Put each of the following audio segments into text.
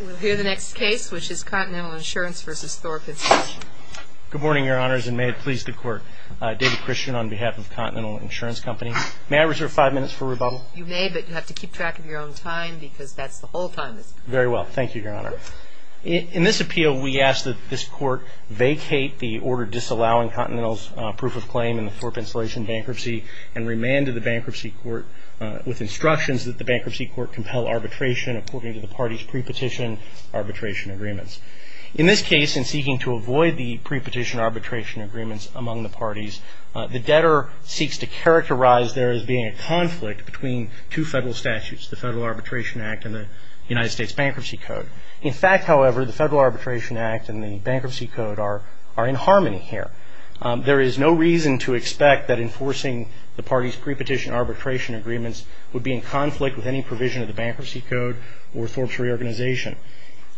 We'll hear the next case, which is Continental Insurance v. Thorpe Insulation. Good morning, Your Honors, and may it please the Court. David Christian on behalf of Continental Insurance Company. May I reserve five minutes for rebuttal? You may, but you have to keep track of your own time because that's the whole time. Very well. Thank you, Your Honor. In this appeal, we ask that this Court vacate the order disallowing Continental's proof of claim in the Thorpe Insulation bankruptcy and remand to the Bankruptcy Court with instructions that the Bankruptcy Court compel arbitration according to the party's pre-petition arbitration agreements. In this case, in seeking to avoid the pre-petition arbitration agreements among the parties, the debtor seeks to characterize there as being a conflict between two federal statutes, the Federal Arbitration Act and the United States Bankruptcy Code. In fact, however, the Federal Arbitration Act and the Bankruptcy Code are in harmony here. There is no reason to expect that enforcing the party's pre-petition arbitration agreements would be in conflict with any provision of the Bankruptcy Code or Thorpe's reorganization.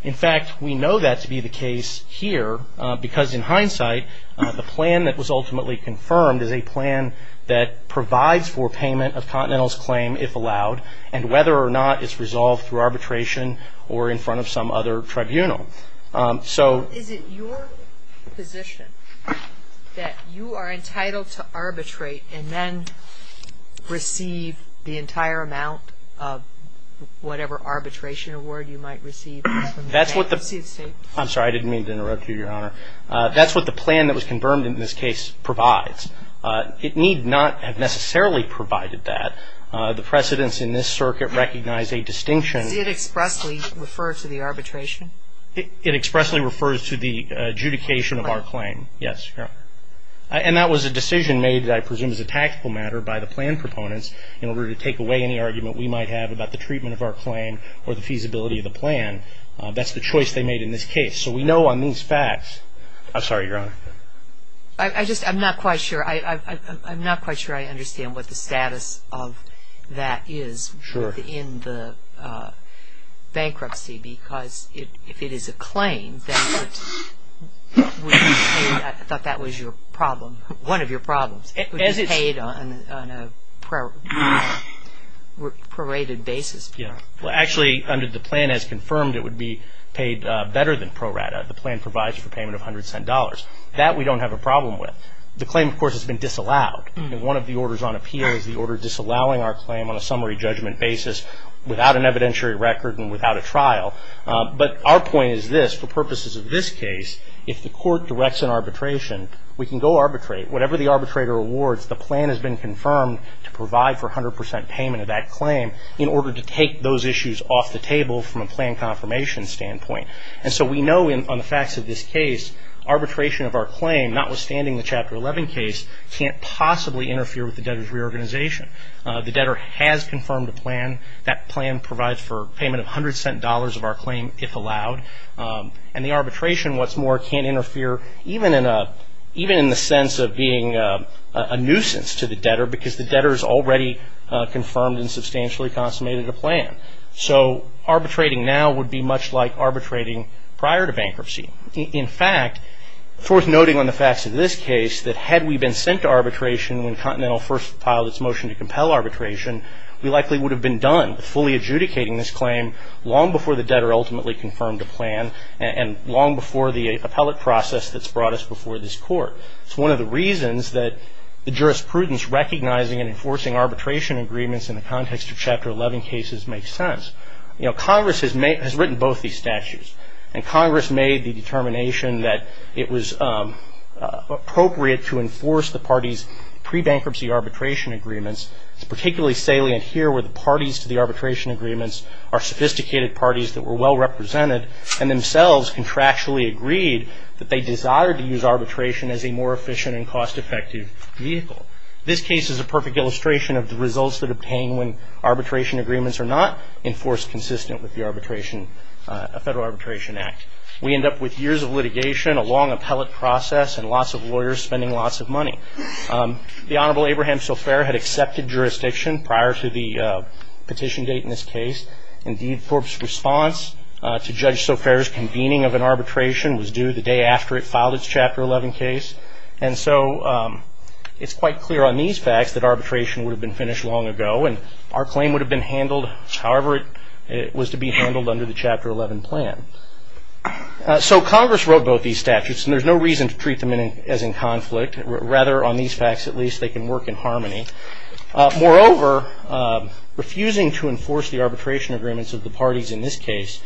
In fact, we know that to be the case here because, in hindsight, the plan that was ultimately confirmed is a plan that provides for payment of Continental's claim, if allowed, and whether or not it's resolved through arbitration or in front of some other tribunal. Is it your position that you are entitled to arbitrate and then receive the entire amount of whatever arbitration award you might receive from the bank? I'm sorry, I didn't mean to interrupt you, Your Honor. That's what the plan that was confirmed in this case provides. It need not have necessarily provided that. The precedents in this circuit recognize a distinction. Does it expressly refer to the arbitration? It expressly refers to the adjudication of our claim, yes, Your Honor. And that was a decision made, I presume, as a tactical matter by the plan proponents in order to take away any argument we might have about the treatment of our claim or the feasibility of the plan. That's the choice they made in this case. So we know on these facts. I'm sorry, Your Honor. I just am not quite sure. I'm not quite sure I understand what the status of that is in the bankruptcy because if it is a claim, then it would be paid. I thought that was your problem, one of your problems. It would be paid on a prorated basis. Well, actually, under the plan as confirmed, it would be paid better than pro rata. The plan provides for payment of $100. That we don't have a problem with. The claim, of course, has been disallowed. One of the orders on appeal is the order disallowing our claim on a summary judgment basis without an evidentiary record and without a trial. But our point is this. For purposes of this case, if the court directs an arbitration, we can go arbitrate. Whatever the arbitrator awards, the plan has been confirmed to provide for 100% payment of that claim in order to take those issues off the table from a plan confirmation standpoint. And so we know on the facts of this case, arbitration of our claim, notwithstanding the Chapter 11 case, can't possibly interfere with the debtor's reorganization. The debtor has confirmed a plan. That plan provides for payment of $100 of our claim if allowed. And the arbitration, what's more, can't interfere even in the sense of being a nuisance to the debtor because the debtor has already confirmed and substantially consummated a plan. So arbitrating now would be much like arbitrating prior to bankruptcy. In fact, forthnoting on the facts of this case, that had we been sent to arbitration when Continental first filed its motion to compel arbitration, we likely would have been done with fully adjudicating this claim long before the debtor ultimately confirmed a plan and long before the appellate process that's brought us before this court. It's one of the reasons that the jurisprudence recognizing and enforcing arbitration agreements in the context of Chapter 11 cases makes sense. Congress has written both these statutes, and Congress made the determination that it was appropriate to enforce the parties' pre-bankruptcy arbitration agreements. It's particularly salient here where the parties to the arbitration agreements are sophisticated parties that were well-represented and themselves contractually agreed that they desired to use arbitration as a more efficient and cost-effective vehicle. This case is a perfect illustration of the results that obtain when arbitration agreements are not enforced consistent with the Federal Arbitration Act. We end up with years of litigation, a long appellate process, and lots of lawyers spending lots of money. The Honorable Abraham Sofair had accepted jurisdiction prior to the petition date in this case. Indeed, Forbes' response to Judge Sofair's convening of an arbitration was due the day after it filed its Chapter 11 case. And so it's quite clear on these facts that arbitration would have been finished long ago, and our claim would have been handled however it was to be handled under the Chapter 11 plan. So Congress wrote both these statutes, and there's no reason to treat them as in conflict. Rather, on these facts at least, they can work in harmony. Moreover, refusing to enforce the arbitration agreements of the parties in this case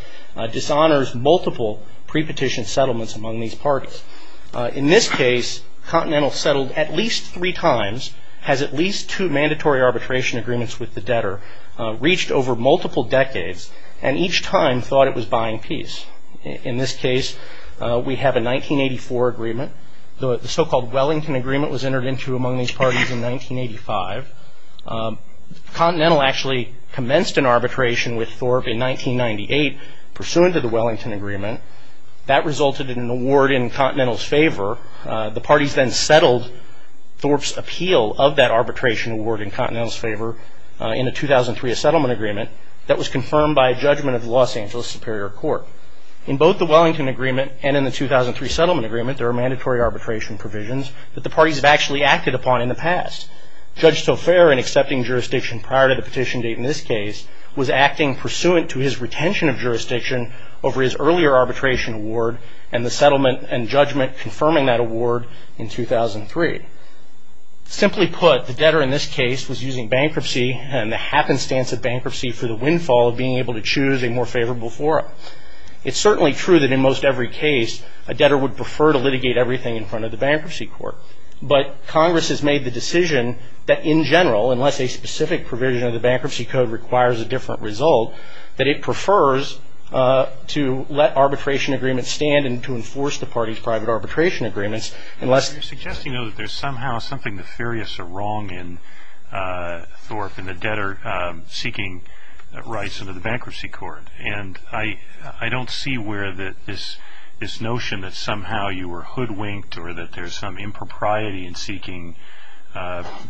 dishonors multiple pre-petition settlements among these parties. In this case, Continental settled at least three times, has at least two mandatory arbitration agreements with the debtor, reached over multiple decades, and each time thought it was buying peace. In this case, we have a 1984 agreement. The so-called Wellington Agreement was entered into among these parties in 1985. Continental actually commenced an arbitration with Forbes in 1998, pursuant to the Wellington Agreement. That resulted in an award in Continental's favor. The parties then settled Forbes' appeal of that arbitration award in Continental's favor in a 2003 settlement agreement that was confirmed by a judgment of the Los Angeles Superior Court. In both the Wellington Agreement and in the 2003 settlement agreement, there are mandatory arbitration provisions that the parties have actually acted upon in the past. Judge Taufair, in accepting jurisdiction prior to the petition date in this case, was acting pursuant to his retention of jurisdiction over his earlier arbitration award and the settlement and judgment confirming that award in 2003. Simply put, the debtor in this case was using bankruptcy and the happenstance of bankruptcy for the windfall of being able to choose a more favorable forum. It's certainly true that in most every case, a debtor would prefer to litigate everything in front of the bankruptcy court, but Congress has made the decision that in general, unless a specific provision of the bankruptcy code requires a different result, that it prefers to let arbitration agreements stand and to enforce the parties' private arbitration agreements. You're suggesting though that there's somehow something nefarious or wrong in Thorpe and the debtor seeking rights under the bankruptcy court. And I don't see where this notion that somehow you were hoodwinked or that there's some impropriety in seeking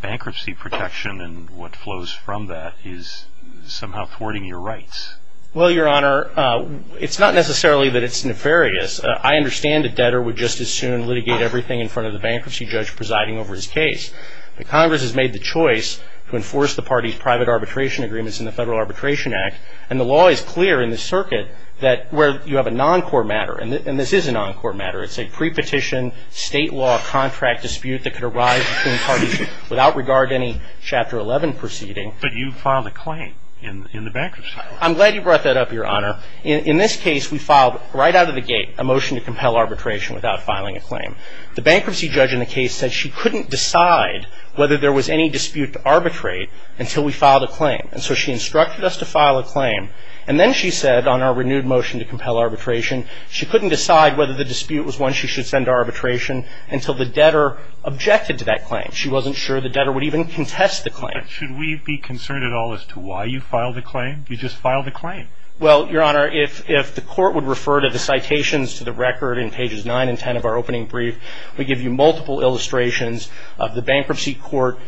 bankruptcy protection and what flows from that is somehow thwarting your rights. Well, Your Honor, it's not necessarily that it's nefarious. I understand a debtor would just as soon litigate everything in front of the bankruptcy judge presiding over his case. But Congress has made the choice to enforce the parties' private arbitration agreements in the Federal Arbitration Act. And the law is clear in the circuit that where you have a non-court matter, and this is a non-court matter, it's a pre-petition state law contract dispute that could arise between parties without regard to any Chapter 11 proceeding. But you filed a claim in the bankruptcy. I'm glad you brought that up, Your Honor. In this case, we filed right out of the gate a motion to compel arbitration without filing a claim. The bankruptcy judge in the case said she couldn't decide whether there was any dispute to arbitrate until we filed a claim. And so she instructed us to file a claim. And then she said on our renewed motion to compel arbitration, she couldn't decide whether the dispute was one she should send to arbitration until the debtor objected to that claim. She wasn't sure the debtor would even contest the claim. But should we be concerned at all as to why you filed a claim? You just filed a claim. Well, Your Honor, if the court would refer to the citations to the record in pages 9 and 10 of our opening brief, we give you multiple illustrations of the bankruptcy court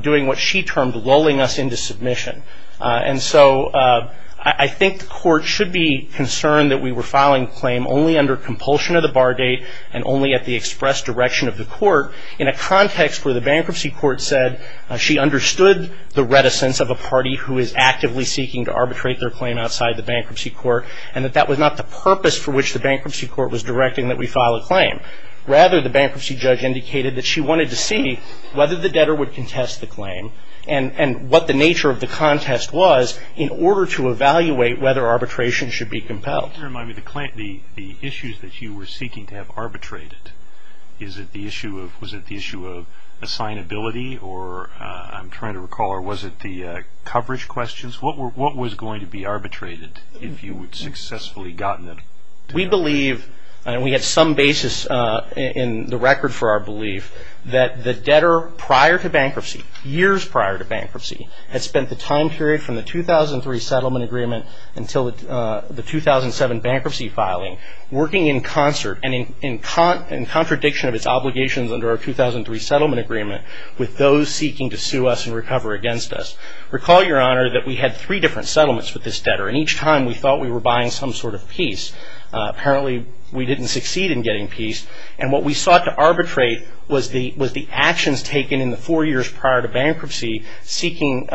doing what she termed lulling us into submission. And so I think the court should be concerned that we were filing a claim only under compulsion of the bar date and only at the express direction of the court in a context where the bankruptcy court said she understood the reticence of a party who is actively seeking to arbitrate their claim outside the bankruptcy court and that that was not the purpose for which the bankruptcy court was directing that we file a claim. Rather, the bankruptcy judge indicated that she wanted to see whether the debtor would contest the claim and what the nature of the contest was in order to evaluate whether arbitration should be compelled. Can you remind me the issues that you were seeking to have arbitrated? Was it the issue of assignability, or I'm trying to recall, or was it the coverage questions? What was going to be arbitrated if you had successfully gotten it? We believe, and we had some basis in the record for our belief, that the debtor prior to bankruptcy, years prior to bankruptcy, had spent the time period from the 2003 settlement agreement until the 2007 bankruptcy filing working in concert and in contradiction of its obligations under our 2003 settlement agreement with those seeking to sue us and recover against us. Recall, Your Honor, that we had three different settlements with this debtor, and each time we thought we were buying some sort of peace. Apparently, we didn't succeed in getting peace, and what we sought to arbitrate was the actions taken in the four years prior to bankruptcy seeking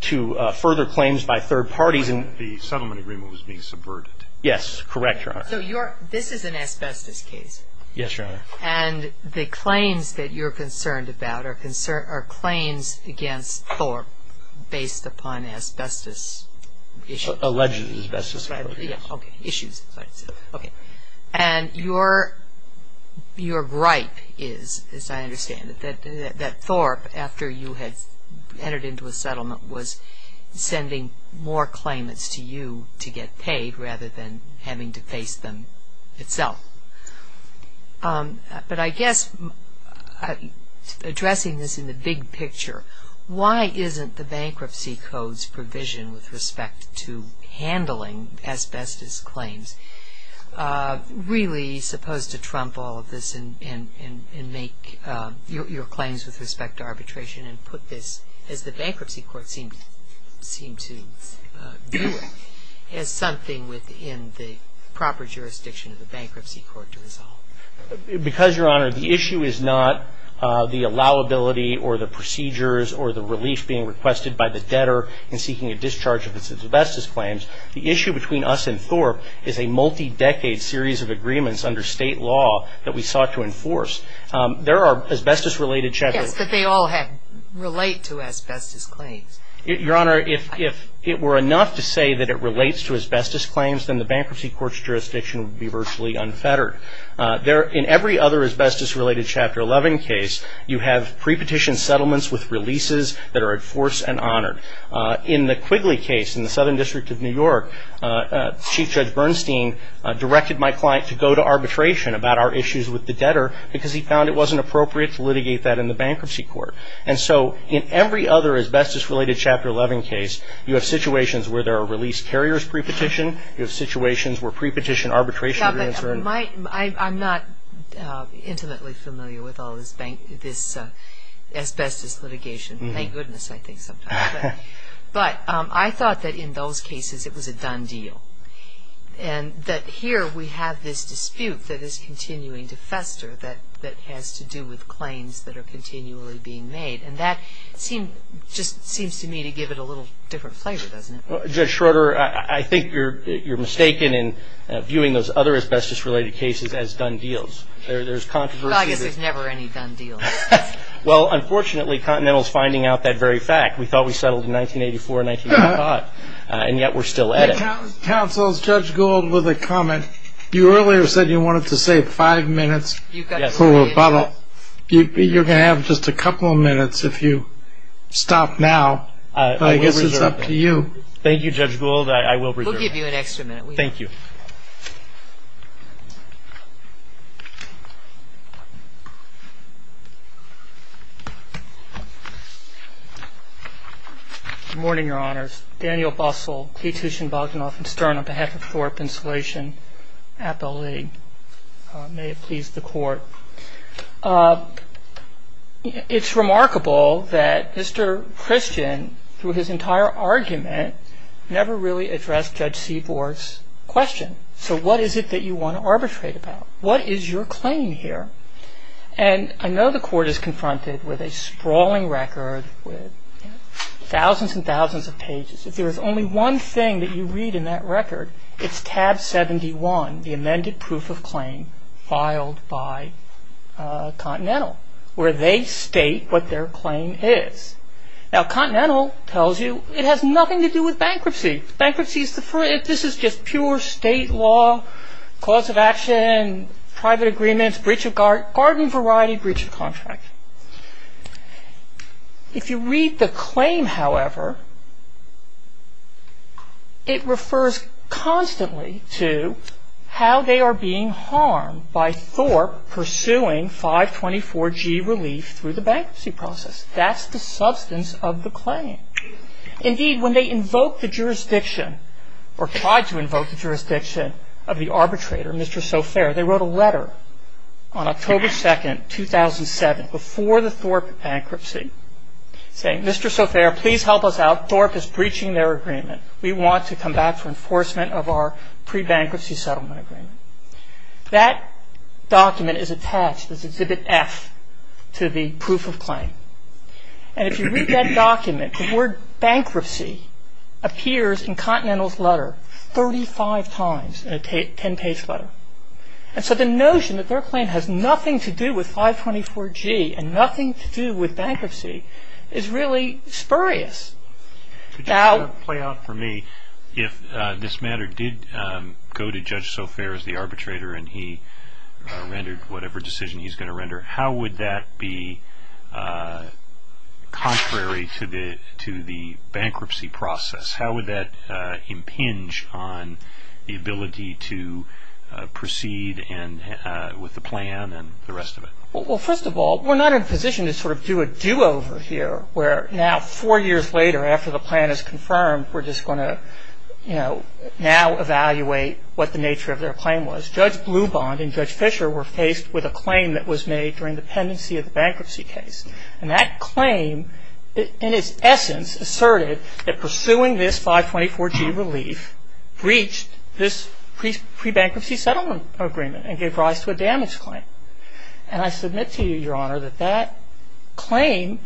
to further claims by third parties. The settlement agreement was being subverted. Yes, correct, Your Honor. So this is an asbestos case. Yes, Your Honor. And the claims that you're concerned about are claims against Thorpe based upon asbestos issues. Alleged asbestos. Issues. And your gripe is, as I understand it, that Thorpe, after you had entered into a settlement, was sending more claimants to you to get paid rather than having to face them itself. But I guess addressing this in the big picture, why isn't the Bankruptcy Code's provision with respect to handling asbestos claims really supposed to trump all of this and make your claims with respect to arbitration and put this, as the Bankruptcy Court seemed to view it, as something within the proper jurisdiction of the Bankruptcy Court to resolve? Because, Your Honor, the issue is not the allowability or the procedures or the relief being requested by the debtor in seeking a discharge of his asbestos claims. The issue between us and Thorpe is a multi-decade series of agreements under state law that we sought to enforce. There are asbestos-related checkers. Yes, but they all relate to asbestos claims. Your Honor, if it were enough to say that it relates to asbestos claims, then the Bankruptcy Court's jurisdiction would be virtually unfettered. In every other asbestos-related Chapter 11 case, you have pre-petition settlements with releases that are enforced and honored. In the Quigley case in the Southern District of New York, Chief Judge Bernstein directed my client to go to arbitration about our issues with the debtor because he found it wasn't appropriate to litigate that in the Bankruptcy Court. And so in every other asbestos-related Chapter 11 case, you have situations where there are release carriers pre-petition. You have situations where pre-petition arbitration agreements are in place. I'm not intimately familiar with all this asbestos litigation. Thank goodness, I think, sometimes. But I thought that in those cases it was a done deal and that here we have this dispute that is continuing to fester that has to do with claims that are continually being made. And that just seems to me to give it a little different flavor, doesn't it? Judge Schroeder, I think you're mistaken in viewing those other asbestos-related cases as done deals. There's controversy. I guess there's never any done deals. Well, unfortunately, Continental is finding out that very fact. We thought we settled in 1984, 1985, and yet we're still at it. Counsel, Judge Gould with a comment. You earlier said you wanted to save five minutes for rebuttal. You're going to have just a couple of minutes if you stop now. I guess it's up to you. Thank you, Judge Gould. I will reserve it. We'll give you an extra minute. Thank you. Good morning, Your Honors. Daniel Bussell, Petition Bogdanoff and Stern on behalf of Thorpe Installation Appellee. May it please the Court. It's remarkable that Mr. Christian, through his entire argument, never really addressed Judge Seaborg's question. So what is it that you want to arbitrate about? What is your claim here? And I know the Court is confronted with a sprawling record with thousands and thousands of pages. If there is only one thing that you read in that record, it's tab 71, the amended proof of claim filed by Continental, where they state what their claim is. Now, Continental tells you it has nothing to do with bankruptcy. Bankruptcy is deferred. This is just pure state law, cause of action, private agreements, breach of garden variety, breach of contract. If you read the claim, however, it refers constantly to how they are being harmed by Thorpe pursuing 524G relief through the bankruptcy process. That's the substance of the claim. Indeed, when they invoked the jurisdiction, or tried to invoke the jurisdiction of the arbitrator, Mr. Sofair, they wrote a letter on October 2nd, 2007, before the Thorpe bankruptcy, saying, Mr. Sofair, please help us out. Thorpe is breaching their agreement. We want to come back for enforcement of our pre-bankruptcy settlement agreement. That document is attached as Exhibit F to the proof of claim. And if you read that document, the word bankruptcy appears in Continental's letter 35 times in a 10-page letter. And so the notion that their claim has nothing to do with 524G and nothing to do with bankruptcy is really spurious. Could you sort of play out for me, if this matter did go to Judge Sofair as the arbitrator and he rendered whatever decision he's going to render, how would that be contrary to the bankruptcy process? How would that impinge on the ability to proceed with the plan and the rest of it? Well, first of all, we're not in a position to sort of do a do-over here, where now four years later, after the plan is confirmed, we're just going to now evaluate what the nature of their claim was. Judge Blubond and Judge Fisher were faced with a claim that was made during the pendency of the bankruptcy case. And that claim, in its essence, asserted that pursuing this 524G relief breached this pre-bankruptcy settlement agreement and gave rise to a damage claim. And I submit to you, Your Honor, that that claim,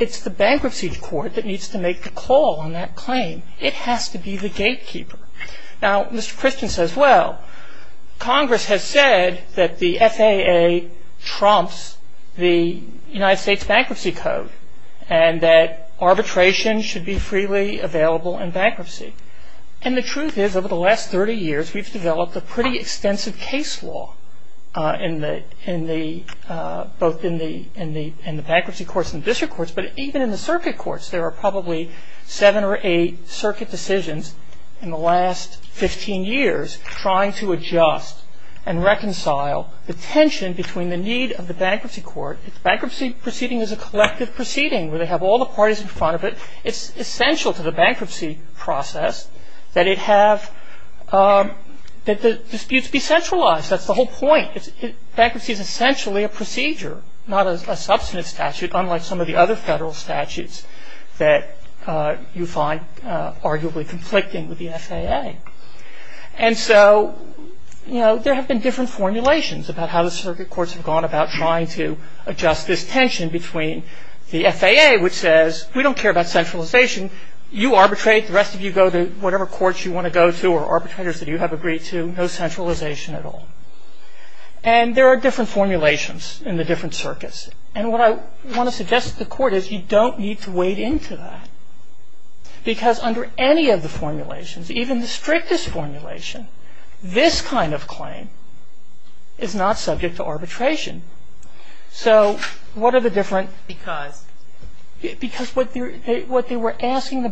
it's the bankruptcy court that needs to make the call on that claim. It has to be the gatekeeper. Now, Mr. Christian says, well, Congress has said that the FAA trumps the United States Bankruptcy Code and that arbitration should be freely available in bankruptcy. And the truth is, over the last 30 years, we've developed a pretty extensive case law both in the bankruptcy courts and district courts, but even in the circuit courts. There are probably seven or eight circuit decisions in the last 15 years trying to adjust and reconcile the tension between the need of the bankruptcy court. Bankruptcy proceeding is a collective proceeding where they have all the parties in front of it. It's essential to the bankruptcy process that the disputes be centralized. That's the whole point. Bankruptcy is essentially a procedure, not a substantive statute, unlike some of the other federal statutes that you find arguably conflicting with the FAA. And so there have been different formulations about how the circuit courts have gone about trying to adjust this tension between the FAA, which says, we don't care about centralization. You arbitrate. The rest of you go to whatever courts you want to go to or arbitrators that you have agreed to. No centralization at all. And there are different formulations in the different circuits. And what I want to suggest to the court is you don't need to wade into that because under any of the formulations, even the strictest formulation, this kind of claim is not subject to arbitration. So what are the different? Because. Because what they would ask the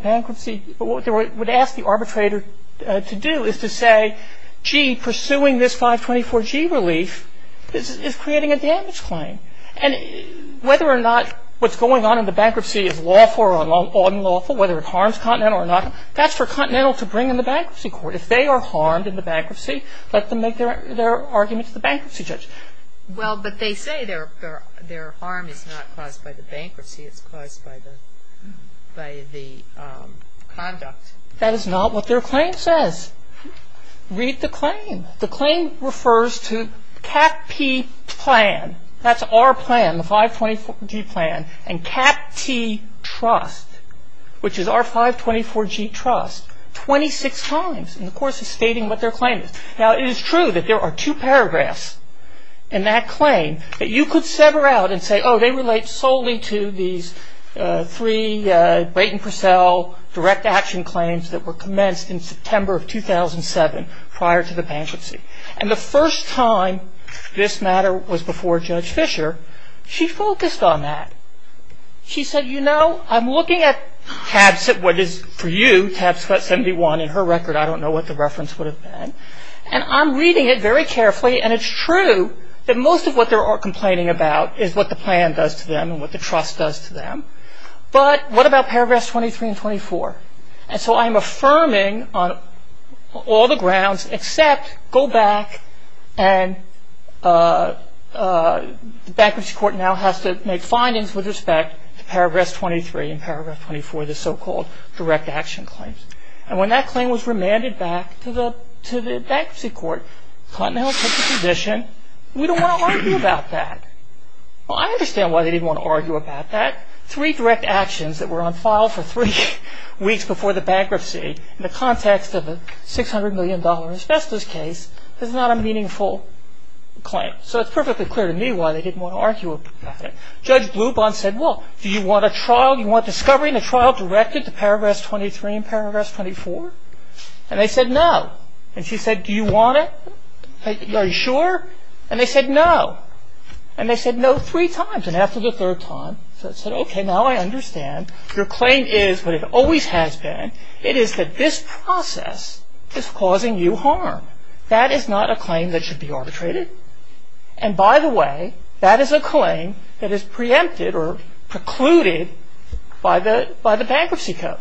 arbitrator to do is to say, gee, pursuing this 524G relief is creating a damage claim. And whether or not what's going on in the bankruptcy is lawful or unlawful, whether it harms Continental or not, that's for Continental to bring in the bankruptcy court. If they are harmed in the bankruptcy, let them make their argument to the bankruptcy judge. Well, but they say their harm is not caused by the bankruptcy. It's caused by the conduct. That is not what their claim says. Read the claim. The claim refers to CAPT plan. That's our plan, the 524G plan. And CAPT trust, which is our 524G trust, 26 times in the course of stating what their claim is. Now, it is true that there are two paragraphs in that claim that you could sever out and say, oh, they relate solely to these three Brayton Purcell direct action claims that were commenced in September of 2007 prior to the bankruptcy. And the first time this matter was before Judge Fisher, she focused on that. She said, you know, I'm looking at what is for you, tab 71, in her record. I don't know what the reference would have been. And I'm reading it very carefully. And it's true that most of what they're complaining about is what the plan does to them and what the trust does to them. But what about paragraphs 23 and 24? And so I'm affirming on all the grounds except go back and the bankruptcy court now has to make findings with respect to paragraph 23 and paragraph 24, the so-called direct action claims. And when that claim was remanded back to the bankruptcy court, Clinton Hill took the position, we don't want to argue about that. Well, I understand why they didn't want to argue about that. Three direct actions that were on file for three weeks before the bankruptcy in the context of a $600 million asbestos case is not a meaningful claim. So it's perfectly clear to me why they didn't want to argue about it. Judge Blubin said, well, do you want a trial? Do you want discovery in a trial directed to paragraph 23 and paragraph 24? And they said no. And she said, do you want it? Are you sure? And they said no. And they said no three times. And after the third time, they said, okay, now I understand. Your claim is what it always has been. It is that this process is causing you harm. That is not a claim that should be arbitrated. And by the way, that is a claim that is preempted or precluded by the bankruptcy code.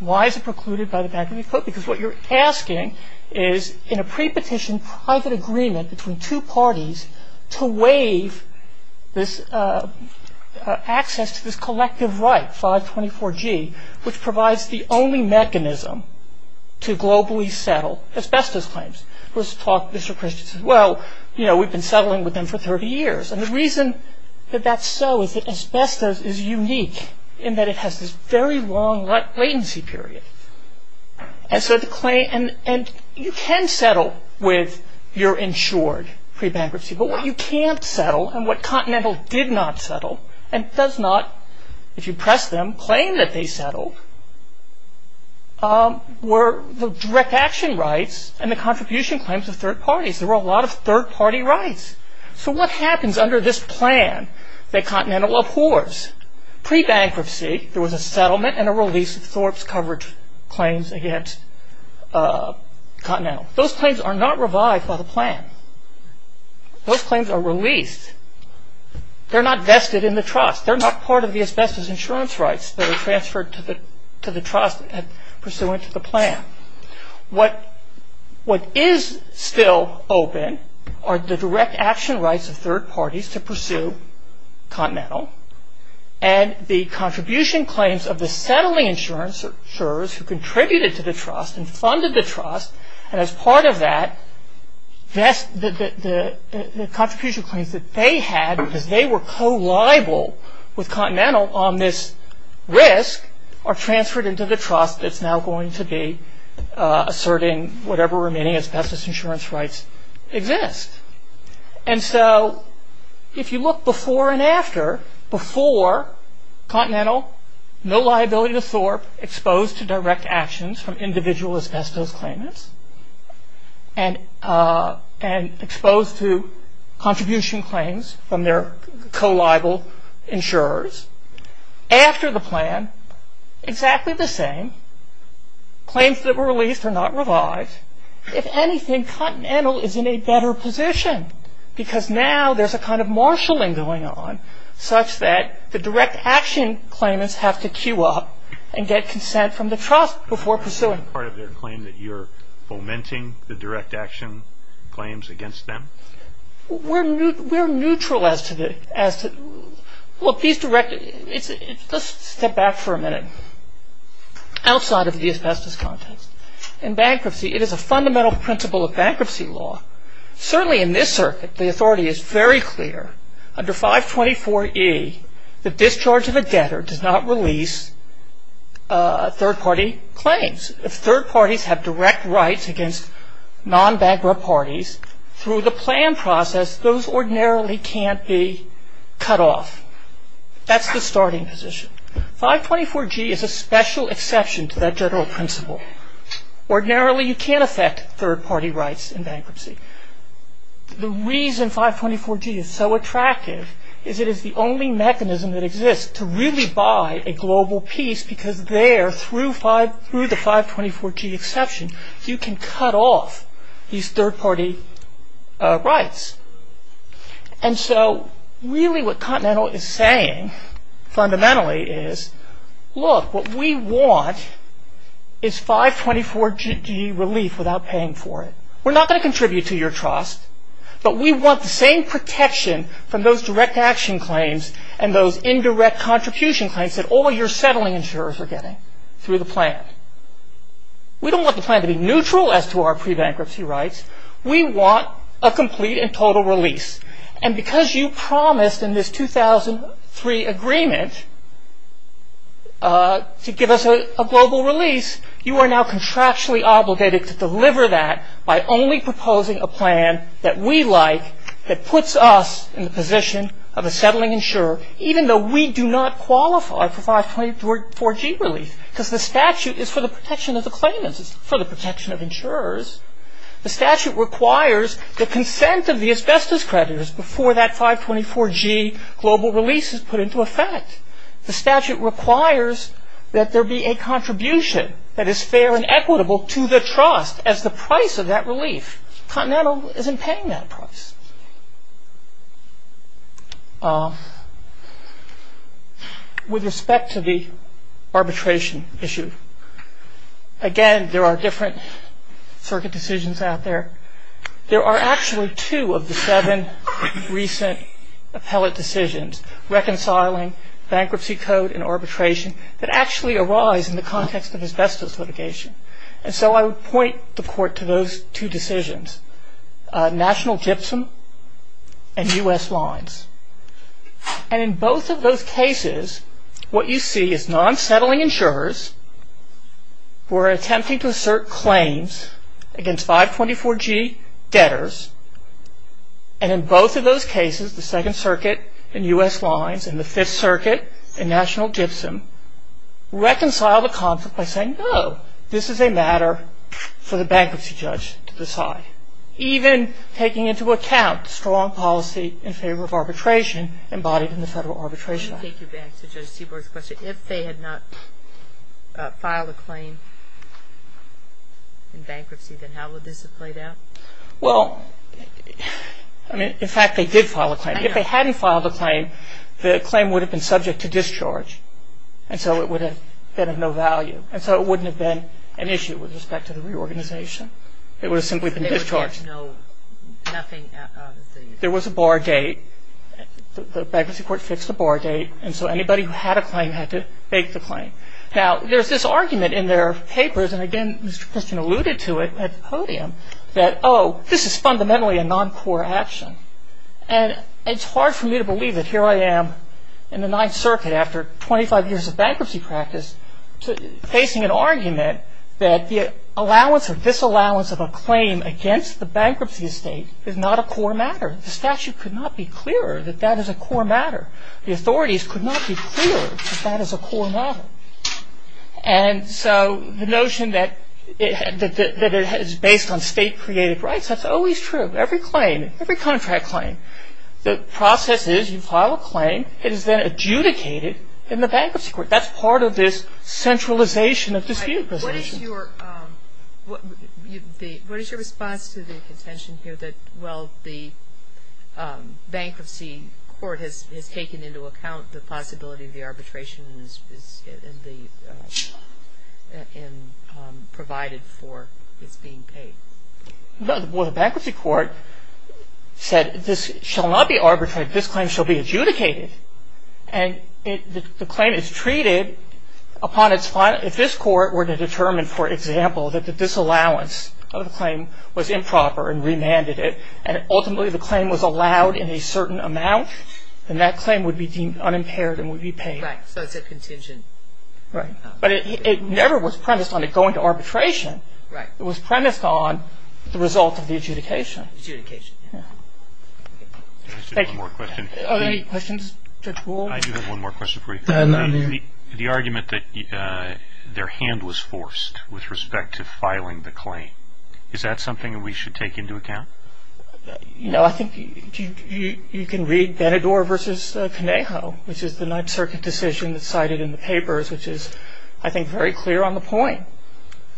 Why is it precluded by the bankruptcy code? Because what you're asking is in a pre-petition private agreement between two parties to waive this access to this collective right, 524G, which provides the only mechanism to globally settle asbestos claims. Let's talk Mr. Christiansen. Well, you know, we've been settling with them for 30 years. And the reason that that's so is that asbestos is unique in that it has this very long latency period. And so you can settle with your insured pre-bankruptcy. But what you can't settle and what Continental did not settle and does not, if you press them, claim that they settled, were the direct action rights and the contribution claims of third parties. There were a lot of third party rights. So what happens under this plan that Continental abhors? Pre-bankruptcy, there was a settlement and a release of Thorpe's coverage claims against Continental. Those claims are not revived by the plan. Those claims are released. They're not vested in the trust. They're not part of the asbestos insurance rights that are transferred to the trust and pursuant to the plan. What is still open are the direct action rights of third parties to pursue Continental and the contribution claims of the settling insurers who contributed to the trust and funded the trust. And as part of that, the contribution claims that they had, because they were co-liable with Continental on this risk, are transferred into the trust that's now going to be asserting whatever remaining asbestos insurance rights exist. And so if you look before and after, before Continental, no liability to Thorpe, exposed to direct actions from individual asbestos claimants and exposed to contribution claims from their co-liable insurers. After the plan, exactly the same. Claims that were released are not revived. If anything, Continental is in a better position because now there's a kind of marshalling going on such that the direct action claimants have to queue up and get consent from the trust before pursuing. Part of their claim that you're fomenting the direct action claims against them? We're neutral as to the... Let's step back for a minute outside of the asbestos context. In bankruptcy, it is a fundamental principle of bankruptcy law. Certainly in this circuit, the authority is very clear. Under 524E, the discharge of a debtor does not release third-party claims. If third parties have direct rights against non-bankrupt parties, through the plan process, those ordinarily can't be cut off. That's the starting position. 524G is a special exception to that general principle. Ordinarily, you can't affect third-party rights in bankruptcy. The reason 524G is so attractive is it is the only mechanism that exists to really buy a global piece because there, through the 524G exception, you can cut off these third-party rights. And so really what Continental is saying fundamentally is, look, what we want is 524G relief without paying for it. We're not going to contribute to your trust, but we want the same protection from those direct action claims and those indirect contribution claims that all your settling insurers are getting through the plan. We don't want the plan to be neutral as to our pre-bankruptcy rights. We want a complete and total release. And because you promised in this 2003 agreement to give us a global release, you are now contractually obligated to deliver that by only proposing a plan that we like that puts us in the position of a settling insurer, even though we do not qualify for 524G relief because the statute is for the protection of the claimants. It's for the protection of insurers. The statute requires the consent of the asbestos creditors before that 524G global release is put into effect. The statute requires that there be a contribution that is fair and equitable to the trust as the price of that relief. Continental isn't paying that price. With respect to the arbitration issue, again, there are different circuit decisions out there. There are actually two of the seven recent appellate decisions, reconciling, bankruptcy code, and arbitration, that actually arise in the context of asbestos litigation. And so I would point the court to those two decisions. National GIPSOM and U.S. Lines. And in both of those cases, what you see is non-settling insurers who are attempting to assert claims against 524G debtors. And in both of those cases, the Second Circuit and U.S. Lines and the Fifth Circuit and National GIPSOM reconcile the conflict by saying, This is a matter for the bankruptcy judge to decide. Even taking into account strong policy in favor of arbitration embodied in the Federal Arbitration Act. Let me take you back to Judge Seaborg's question. If they had not filed a claim in bankruptcy, then how would this have played out? Well, in fact, they did file a claim. If they hadn't filed a claim, the claim would have been subject to discharge. And so it would have been of no value. And so it wouldn't have been an issue with respect to the reorganization. It would have simply been discharged. There was a bar date. The bankruptcy court fixed the bar date. And so anybody who had a claim had to make the claim. Now, there's this argument in their papers, and again Mr. Christian alluded to it at the podium, that, oh, this is fundamentally a non-core action. And it's hard for me to believe that here I am in the Ninth Circuit after 25 years of bankruptcy practice facing an argument that the allowance or disallowance of a claim against the bankruptcy estate is not a core matter. The statute could not be clearer that that is a core matter. The authorities could not be clearer that that is a core matter. And so the notion that it is based on state-created rights, that's always true. Every claim, every contract claim, the process is you file a claim. It is then adjudicated in the bankruptcy court. That's part of this centralization of dispute. What is your response to the contention here that, well, the bankruptcy court has taken into account the possibility of the arbitration and provided for its being paid? Well, the bankruptcy court said this shall not be arbitrated. This claim shall be adjudicated. And the claim is treated upon its final – if this court were to determine, for example, that the disallowance of the claim was improper and remanded it and ultimately the claim was allowed in a certain amount, then that claim would be deemed unimpaired and would be paid. Right, so it's a contingent. Right, but it never was premised on it going to arbitration. Right. It was premised on the result of the adjudication. Adjudication. Yeah. Thank you. One more question. Are there any questions, Judge Wold? I do have one more question for you. The argument that their hand was forced with respect to filing the claim, is that something we should take into account? No, I think you can read Benador v. Conejo, which is the Ninth Circuit decision that's cited in the papers, which is, I think, very clear on the point,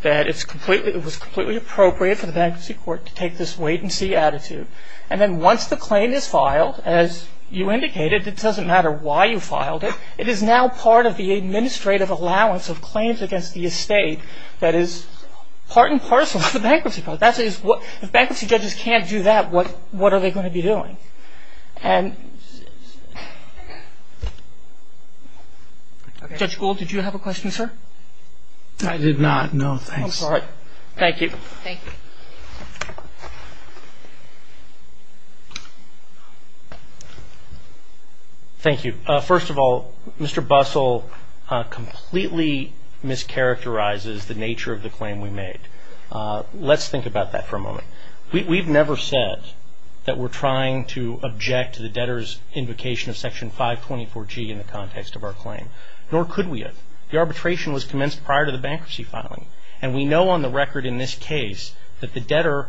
that it was completely appropriate for the bankruptcy court to take this wait-and-see attitude. And then once the claim is filed, as you indicated, it doesn't matter why you filed it, it is now part of the administrative allowance of claims against the estate that is part and parcel of the bankruptcy court. And Judge Wold, did you have a question, sir? I did not. No, thanks. All right. Thank you. Thank you. First of all, Mr. Bussell completely mischaracterizes the nature of the claim we made. Let's think about that for a moment. We've never said that we're trying to object to the debtor's invocation of Section 524G in the context of our claim, nor could we have. The arbitration was commenced prior to the bankruptcy filing, and we know on the record in this case that the debtor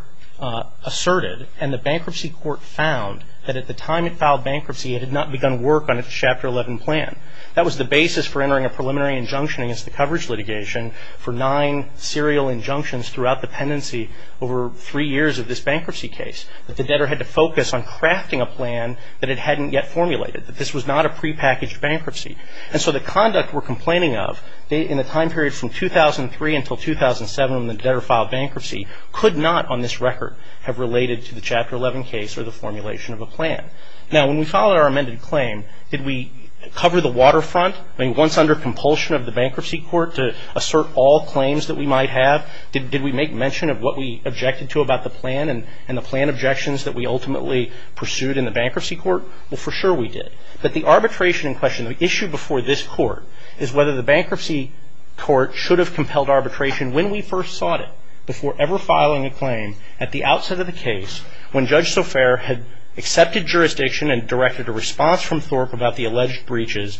asserted, and the bankruptcy court found that at the time it filed bankruptcy, it had not begun work on its Chapter 11 plan. That was the basis for entering a preliminary injunction against the coverage litigation for nine serial injunctions throughout the pendency over three years of this bankruptcy case, that the debtor had to focus on crafting a plan that it hadn't yet formulated, that this was not a prepackaged bankruptcy. And so the conduct we're complaining of in the time period from 2003 until 2007 when the debtor filed bankruptcy could not on this record have related to the Chapter 11 case or the formulation of a plan. Now, when we filed our amended claim, did we cover the waterfront? I mean, once under compulsion of the bankruptcy court to assert all claims that we might have, did we make mention of what we objected to about the plan and the plan objections that we ultimately pursued in the bankruptcy court? Well, for sure we did. But the arbitration in question, the issue before this court, is whether the bankruptcy court should have compelled arbitration when we first sought it before ever filing a claim at the outset of the case when Judge Sofair had accepted jurisdiction and directed a response from Thorpe about the alleged breaches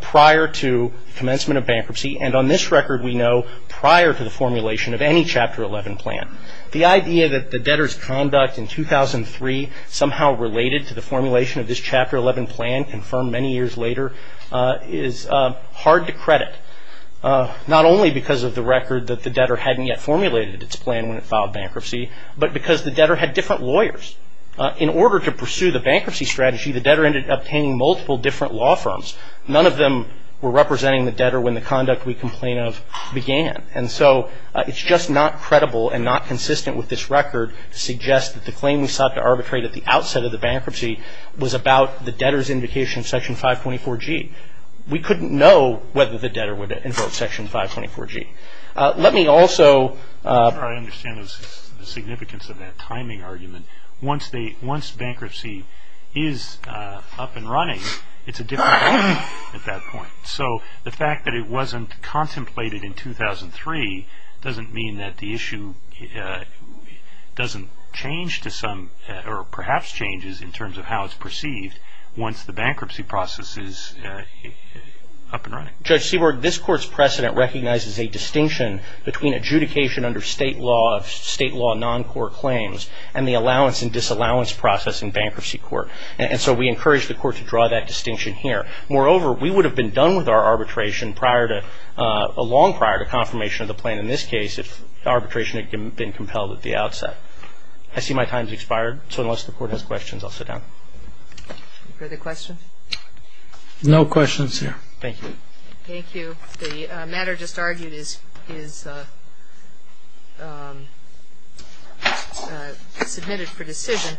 prior to commencement of bankruptcy. And on this record we know prior to the formulation of any Chapter 11 plan. The idea that the debtor's conduct in 2003 somehow related to the formulation of this Chapter 11 plan, confirmed many years later, is hard to credit. Not only because of the record that the debtor hadn't yet formulated its plan when it filed bankruptcy, but because the debtor had different lawyers. In order to pursue the bankruptcy strategy, the debtor ended up obtaining multiple different law firms. None of them were representing the debtor when the conduct we complain of began. And so it's just not credible and not consistent with this record to suggest that the claim we sought to arbitrate at the outset of the bankruptcy was about the debtor's indication of Section 524G. We couldn't know whether the debtor would invoke Section 524G. Let me also... once bankruptcy is up and running, it's a different problem at that point. So the fact that it wasn't contemplated in 2003 doesn't mean that the issue doesn't change to some... or perhaps changes in terms of how it's perceived once the bankruptcy process is up and running. Judge Seaborg, this Court's precedent recognizes a distinction between adjudication under state law of state law non-court claims and the allowance and disallowance process in bankruptcy court. And so we encourage the Court to draw that distinction here. Moreover, we would have been done with our arbitration prior to... long prior to confirmation of the plan in this case if arbitration had been compelled at the outset. I see my time's expired, so unless the Court has questions, I'll sit down. Further questions? No questions here. Thank you. Thank you. The matter just argued is... submitted for decision.